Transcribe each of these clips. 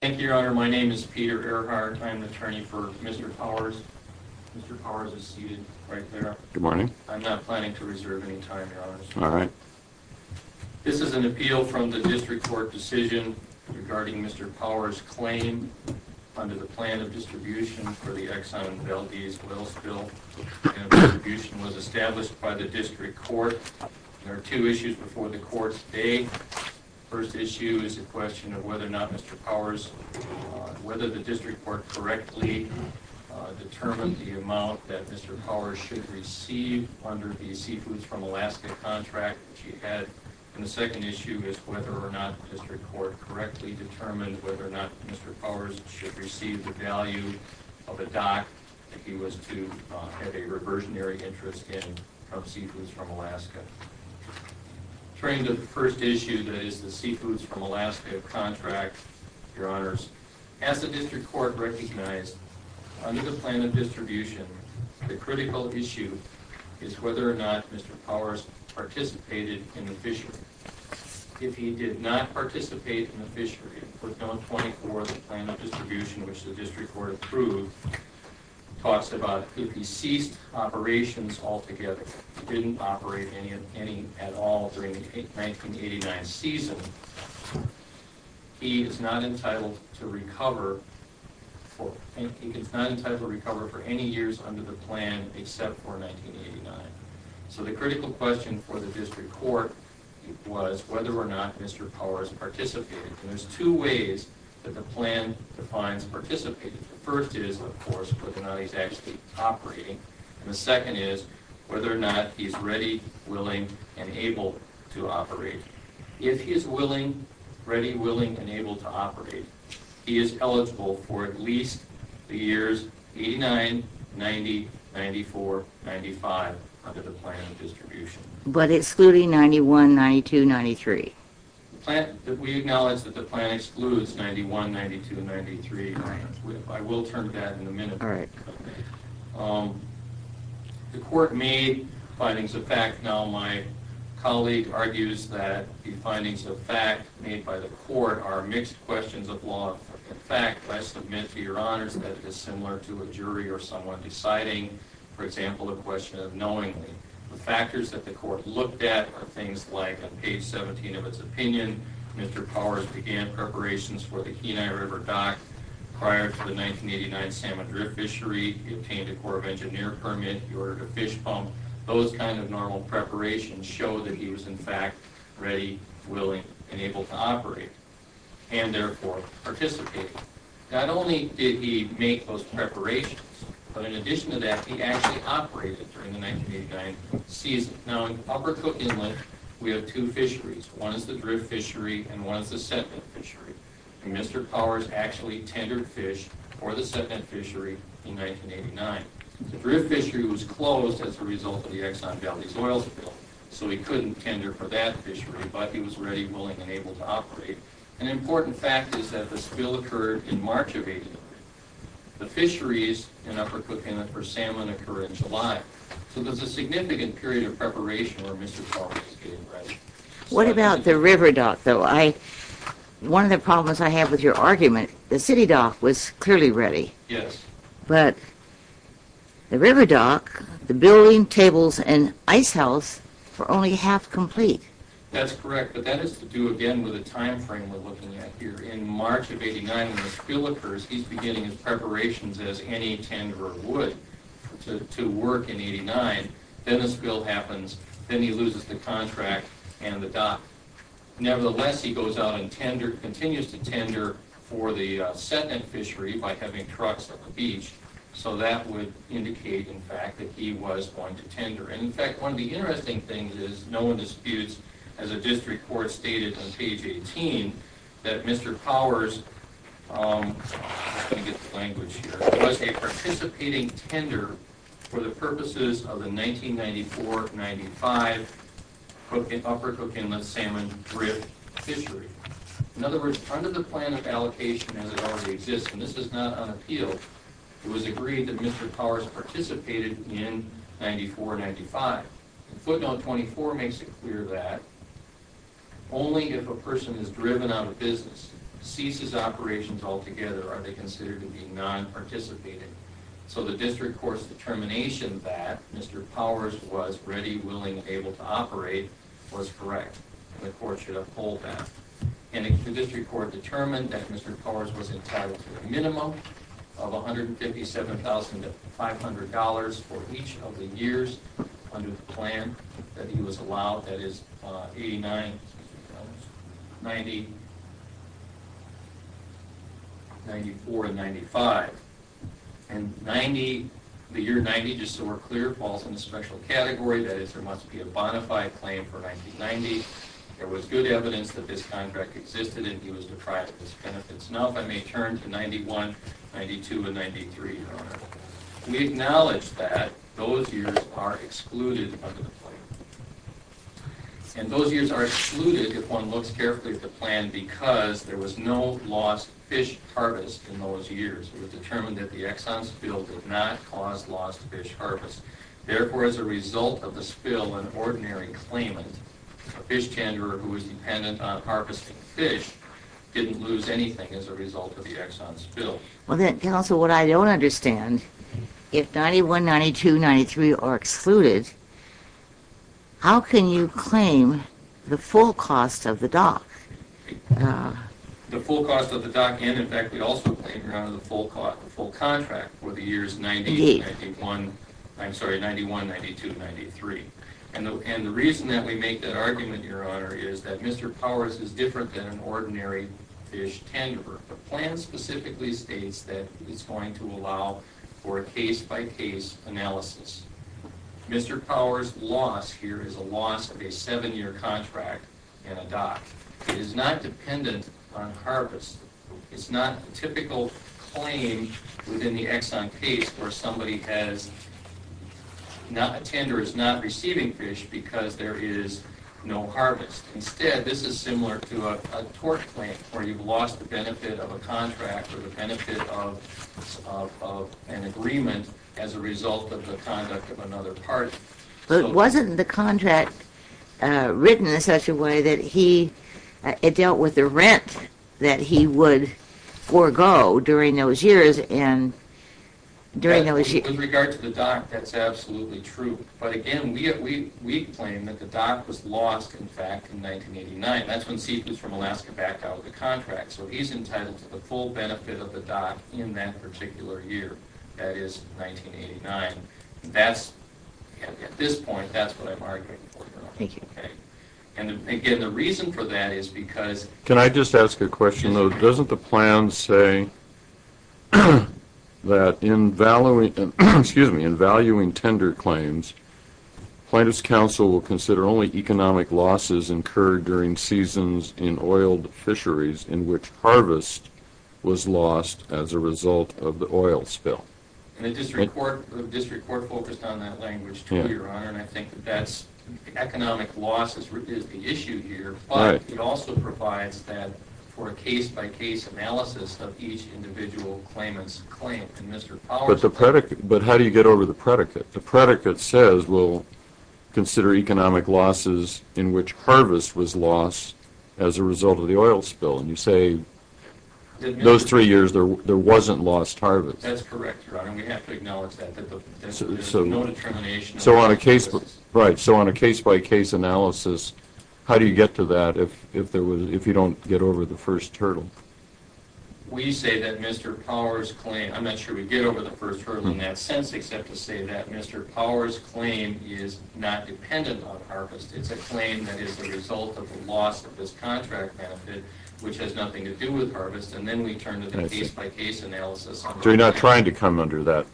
Thank you, Your Honor. My name is Peter Erhart. I'm the attorney for Mr. Powers. Mr. Powers is seated right there. Good morning. I'm not planning to reserve any time, Your Honor. All right. This is an appeal from the district court decision regarding Mr. Powers' claim under the plan of distribution for the Exxon Valdez oil spill. The plan of distribution was established by the district court. There are two issues before the court today. The first issue is a question of whether or not Mr. Powers, whether the district court correctly determined the amount that Mr. Powers should receive under the Seafoods from Alaska contract that he had. And the second issue is whether or not the district court correctly determined whether or not Mr. Powers should receive the value of a dock that he was to have a reversionary interest in from Seafoods from Alaska. Turning to the first issue, that is the Seafoods from Alaska contract, Your Honors, as the district court recognized under the plan of distribution, the critical issue is whether or not Mr. Powers participated in the fishery. If he did not participate in the fishery, for Bill 24, the plan of distribution, which the district court approved, talks about if he ceased operations altogether, didn't operate any at all during the 1989 season, he is not entitled to recover for any years under the plan except for 1989. So the critical question for the district court was whether or not Mr. Powers participated. And there's two ways that the plan defines participated. The first is, of course, whether or not he's actually operating. And the second is whether or not he's ready, willing, and able to operate. If he is willing, ready, willing, and able to operate, he is eligible for at least the years 89, 90, 94, 95 under the plan of distribution. But excluding 91, 92, 93? We acknowledge that the plan excludes 91, 92, 93. I will turn to that in a minute. The court made findings of fact. Now, my colleague argues that the findings of fact made by the court are mixed questions of law and fact. I must admit, to your honors, that it is similar to a jury or someone deciding, for example, the question of knowingly. The factors that the court looked at are things like, on page 17 of its opinion, Mr. Powers began preparations for the Kenai River dock prior to the 1989 Salmon Drift fishery. He obtained a Corps of Engineers permit. He ordered a fish pump. Those kinds of normal preparations show that he was, in fact, ready, willing, and able to operate and, therefore, participate. Not only did he make those preparations, but in addition to that, he actually operated during the 1989 season. Now, in Upper Cook Inlet, we have two fisheries. One is the drift fishery and one is the sediment fishery. And Mr. Powers actually tendered fish for the sediment fishery in 1989. The drift fishery was closed as a result of the Exxon Valdez oil spill, so he couldn't tender for that fishery, but he was ready, willing, and able to operate. An important fact is that the spill occurred in March of 1989. The fisheries in Upper Cook Inlet for salmon occurred in July. So there's a significant period of preparation where Mr. Powers was getting ready. What about the river dock, though? One of the problems I have with your argument, the city dock was clearly ready. Yes. But the river dock, the building, tables, and ice house were only half complete. That's correct, but that has to do, again, with the time frame we're looking at here. In March of 1989, when the spill occurs, he's beginning his preparations as any tenderer would to work in 1989. Then a spill happens, then he loses the contract and the dock. Nevertheless, he goes out and continues to tender for the sediment fishery by having trucks at the beach. So that would indicate, in fact, that he was going to tender. In fact, one of the interesting things is, no one disputes, as a district court stated on page 18, that Mr. Powers was a participating tender for the purposes of the 1994-95 Upper Cook Inlet salmon drift fishery. In other words, under the plan of allocation as it already exists, and this is not on appeal, it was agreed that Mr. Powers participated in 1994-95. Footnote 24 makes it clear that only if a person is driven out of business, ceases operations altogether, are they considered to be non-participating. So the district court's determination that Mr. Powers was ready, willing, and able to operate was correct, and the court should uphold that. And the district court determined that Mr. Powers was entitled to a minimum of $157,500 for each of the years under the plan that he was allowed, that is, 89, 94, and 95. And the year 90, just so we're clear, falls in a special category, that is, there must be a bona fide claim for 1990. There was good evidence that this contract existed and he was deprived of his benefits. Now if I may turn to 91, 92, and 93, Your Honor. We acknowledge that those years are excluded under the plan. And those years are excluded, if one looks carefully at the plan, because there was no lost fish harvest in those years. It was determined that the Exxon spill did not cause lost fish harvest. Therefore, as a result of the spill, an ordinary claimant, a fish tenderer who was dependent on harvesting fish, didn't lose anything as a result of the Exxon spill. Well then, counsel, what I don't understand, if 91, 92, 93 are excluded, how can you claim the full cost of the dock? The full cost of the dock and, in fact, we also claim the full contract for the years 91, 92, and 93. And the reason that we make that argument, Your Honor, is that Mr. Powers is different than an ordinary fish tenderer. The plan specifically states that it's going to allow for a case-by-case analysis. Mr. Powers' loss here is a loss of a seven-year contract and a dock. It is not dependent on harvest. It's not a typical claim within the Exxon case where somebody has, a tenderer is not receiving fish because there is no harvest. Instead, this is similar to a tort claim where you've lost the benefit of a contract or the benefit of an agreement as a result of the conduct of another party. But wasn't the contract written in such a way that it dealt with the rent that he would forego during those years? With regard to the dock, that's absolutely true. But again, we claim that the dock was lost, in fact, in 1989. That's when Seif was from Alaska backed out of the contract. So he's entitled to the full benefit of the dock in that particular year, that is, 1989. At this point, that's what I'm arguing for, Your Honor. Thank you. Can I just ask a question, though? Doesn't the plan say that in valuing tender claims, Plaintiffs' Council will consider only economic losses incurred during seasons in oiled fisheries in which harvest was lost as a result of the oil spill? The district court focused on that language, too, Your Honor, and I think that economic loss is the issue here, but it also provides that for a case-by-case analysis of each individual claimant's claim. But how do you get over the predicate? The predicate says we'll consider economic losses in which harvest was lost as a result of the oil spill, and you say in those three years there wasn't lost harvest. That's correct, Your Honor. We have to acknowledge that. There's no determination. Right. So on a case-by-case analysis, how do you get to that if you don't get over the first hurdle? We say that Mr. Powers' claim – I'm not sure we get over the first hurdle in that sense except to say that Mr. Powers' claim is not dependent on harvest. It's a claim that is the result of the loss of this contract benefit, which has nothing to do with harvest, and then we turn to the case-by-case analysis. So you're not trying to come under that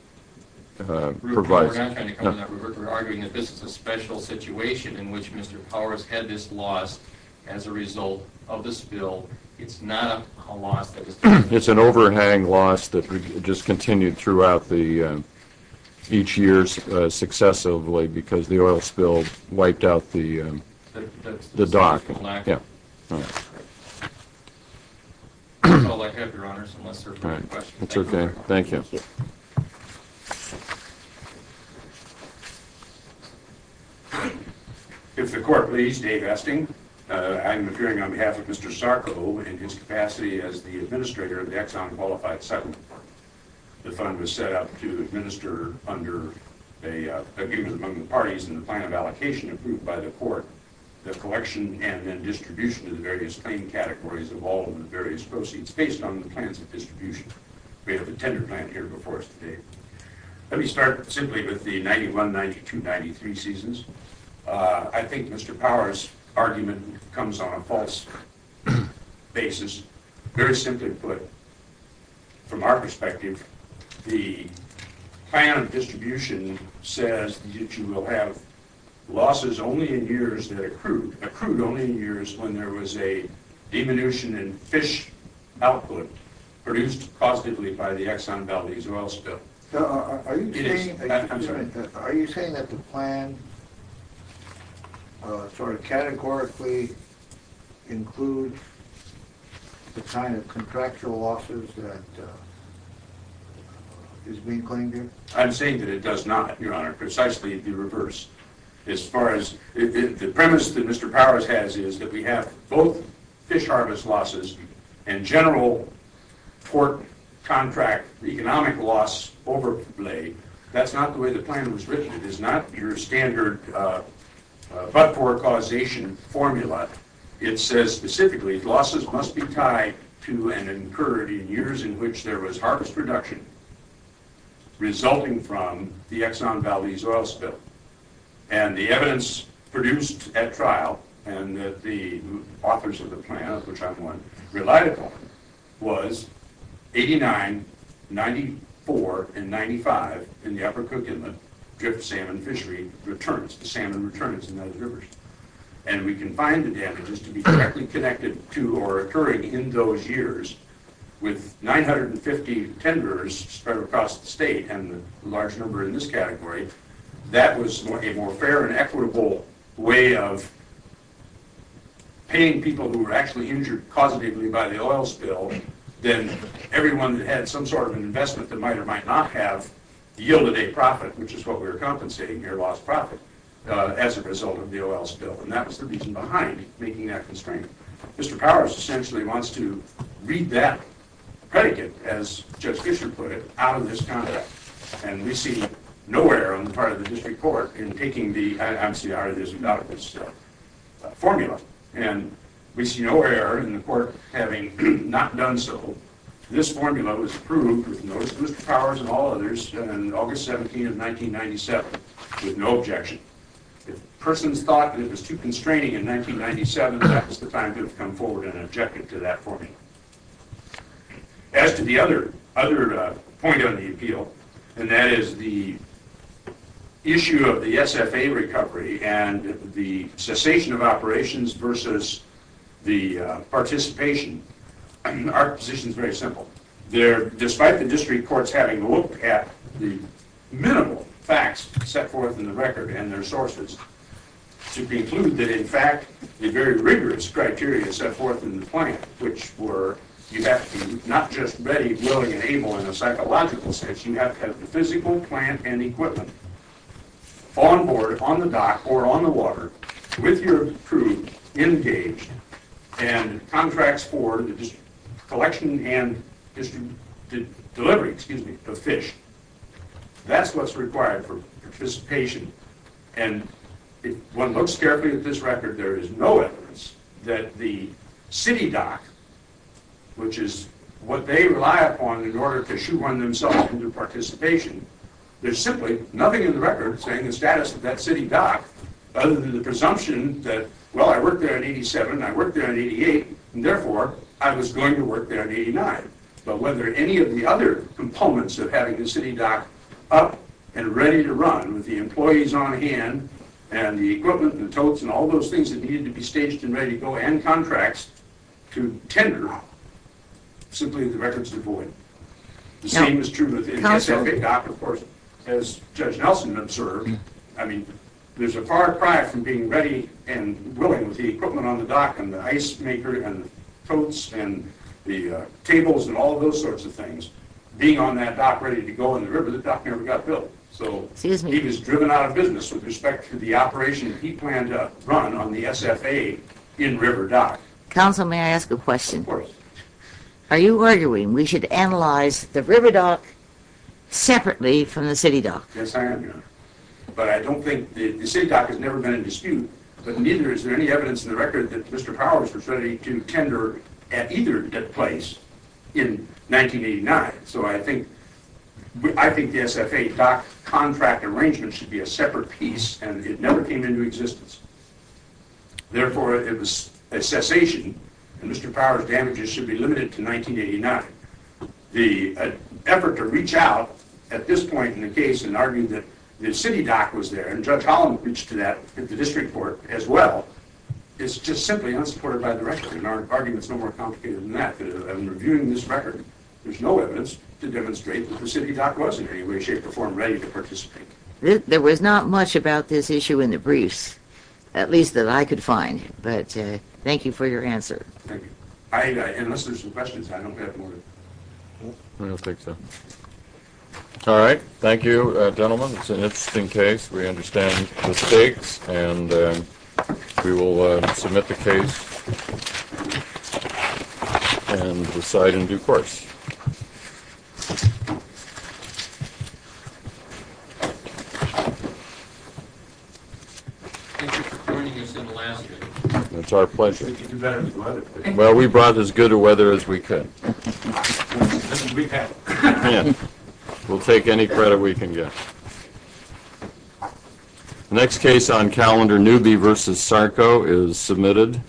provision? We're not trying to come under that. We're arguing that this is a special situation in which Mr. Powers had this loss as a result of the spill. It's not a loss that was – It's an overhang loss that just continued throughout the – each year successively because the oil spill wiped out the dock. That's all I have, Your Honors, unless there are further questions. That's okay. Thank you. If the Court please, Dave Esting. I'm appearing on behalf of Mr. Sarko in his capacity as the administrator of the Exxon Qualified Cycle Department. The fund was set up to administer under an agreement among the parties in the plan of allocation approved by the Court the collection and then distribution of the various claim categories of all of the various proceeds based on the plans of distribution. We have a tender plan here before us today. Let me start simply with the 91, 92, 93 seasons. I think Mr. Powers' argument comes on a false basis. Very simply put, from our perspective, the plan of distribution says that you will have losses only in years that accrued – accrued only in years when there was a diminution in fish output produced positively by the Exxon Valdez oil spill. Are you saying that the plan sort of categorically includes the kind of contractual losses that is being claimed here? That's not the way the plan was written. It is not your standard but-for-causation formula. It says specifically losses must be tied to and incurred in years in which there was harvest reduction resulting from the Exxon Valdez oil spill. And the evidence produced at trial and that the authors of the plan, which I'm one, relied upon was 89, 94, and 95 in the upper Cook Inlet drift salmon fishery returns, the salmon returns in those rivers. And we can find the damages to be directly connected to or occurring in those years with 950 tenders spread across the state and a large number in this category. That was a more fair and equitable way of paying people who were actually injured positively by the oil spill than everyone who had some sort of an investment that might or might not have yielded a profit, which is what we're compensating here, lost profit, as a result of the oil spill. And that was the reason behind making that constraint. Mr. Powers essentially wants to read that predicate, as Judge Fischer put it, out of this conduct. And we see no error on the part of the district court in taking the MCR, the Zimbabwe spill, formula. And we see no error in the court having not done so. This formula was approved, with the notice of Mr. Powers and all others, on August 17, 1997, with no objection. If persons thought that it was too constraining in 1997, that was the time to have come forward and objected to that formula. As to the other point on the appeal, and that is the issue of the SFA recovery and the cessation of operations versus the participation, our position is very simple. Despite the district courts having looked at the minimal facts set forth in the record and their sources, to conclude that, in fact, the very rigorous criteria set forth in the plan, which were you have to not just ready, willing, and able in a psychological sense, you have to have the physical plant and equipment on board, on the dock, or on the water, with your crew engaged, and contracts for the collection and delivery of fish. That's what's required for participation. And if one looks carefully at this record, there is no evidence that the city dock, which is what they rely upon in order to shoot one themselves into participation, there's simply nothing in the record saying the status of that city dock, other than the presumption that, well, I worked there in 87, I worked there in 88, and therefore I was going to work there in 89. But whether any of the other components of having a city dock up and ready to run, with the employees on hand, and the equipment and the totes and all those things that needed to be staged and ready to go, and contracts to tender, simply the record's devoid. The same is true with the SFA dock, of course, as Judge Nelson observed, I mean, there's a far cry from being ready and willing with the equipment on the dock and the ice maker and the totes and the tables and all those sorts of things, being on that dock ready to go in the river the dock never got built. So he was driven out of business with respect to the operation that he planned to run on the SFA in-river dock. Counsel, may I ask a question? Of course. Are you arguing we should analyze the river dock separately from the city dock? Yes, I am, Your Honor. But I don't think, the city dock has never been in dispute, but neither is there any evidence in the record that Mr. Powers was ready to tender at either place in 1989. So I think the SFA dock contract arrangement should be a separate piece, and it never came into existence. Therefore, it was a cessation, and Mr. Powers' damages should be limited to 1989. The effort to reach out at this point in the case and argue that the city dock was there, and Judge Holland reached to that at the district court as well, is just simply unsupported by the record. And our argument's no more complicated than that. In reviewing this record, there's no evidence to demonstrate that the city dock was in any way, shape, or form ready to participate. There was not much about this issue in the briefs, at least that I could find. But thank you for your answer. Thank you. Unless there's some questions, I don't have more to... I don't think so. All right. Thank you, gentlemen. It's an interesting case. We understand the stakes, and we will submit the case and decide in due course. Thank you for joining us in the last minute. It's our pleasure. We brought as good a weather as we could. We had. We'll take any credit we can get. The next case on calendar, Newby v. Sarko, is submitted.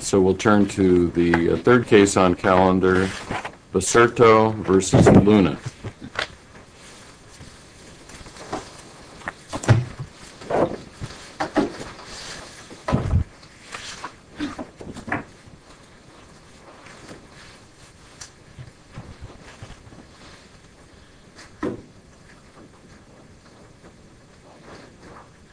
So we'll turn to the third case on calendar, Baserto v. Luna. Thank you.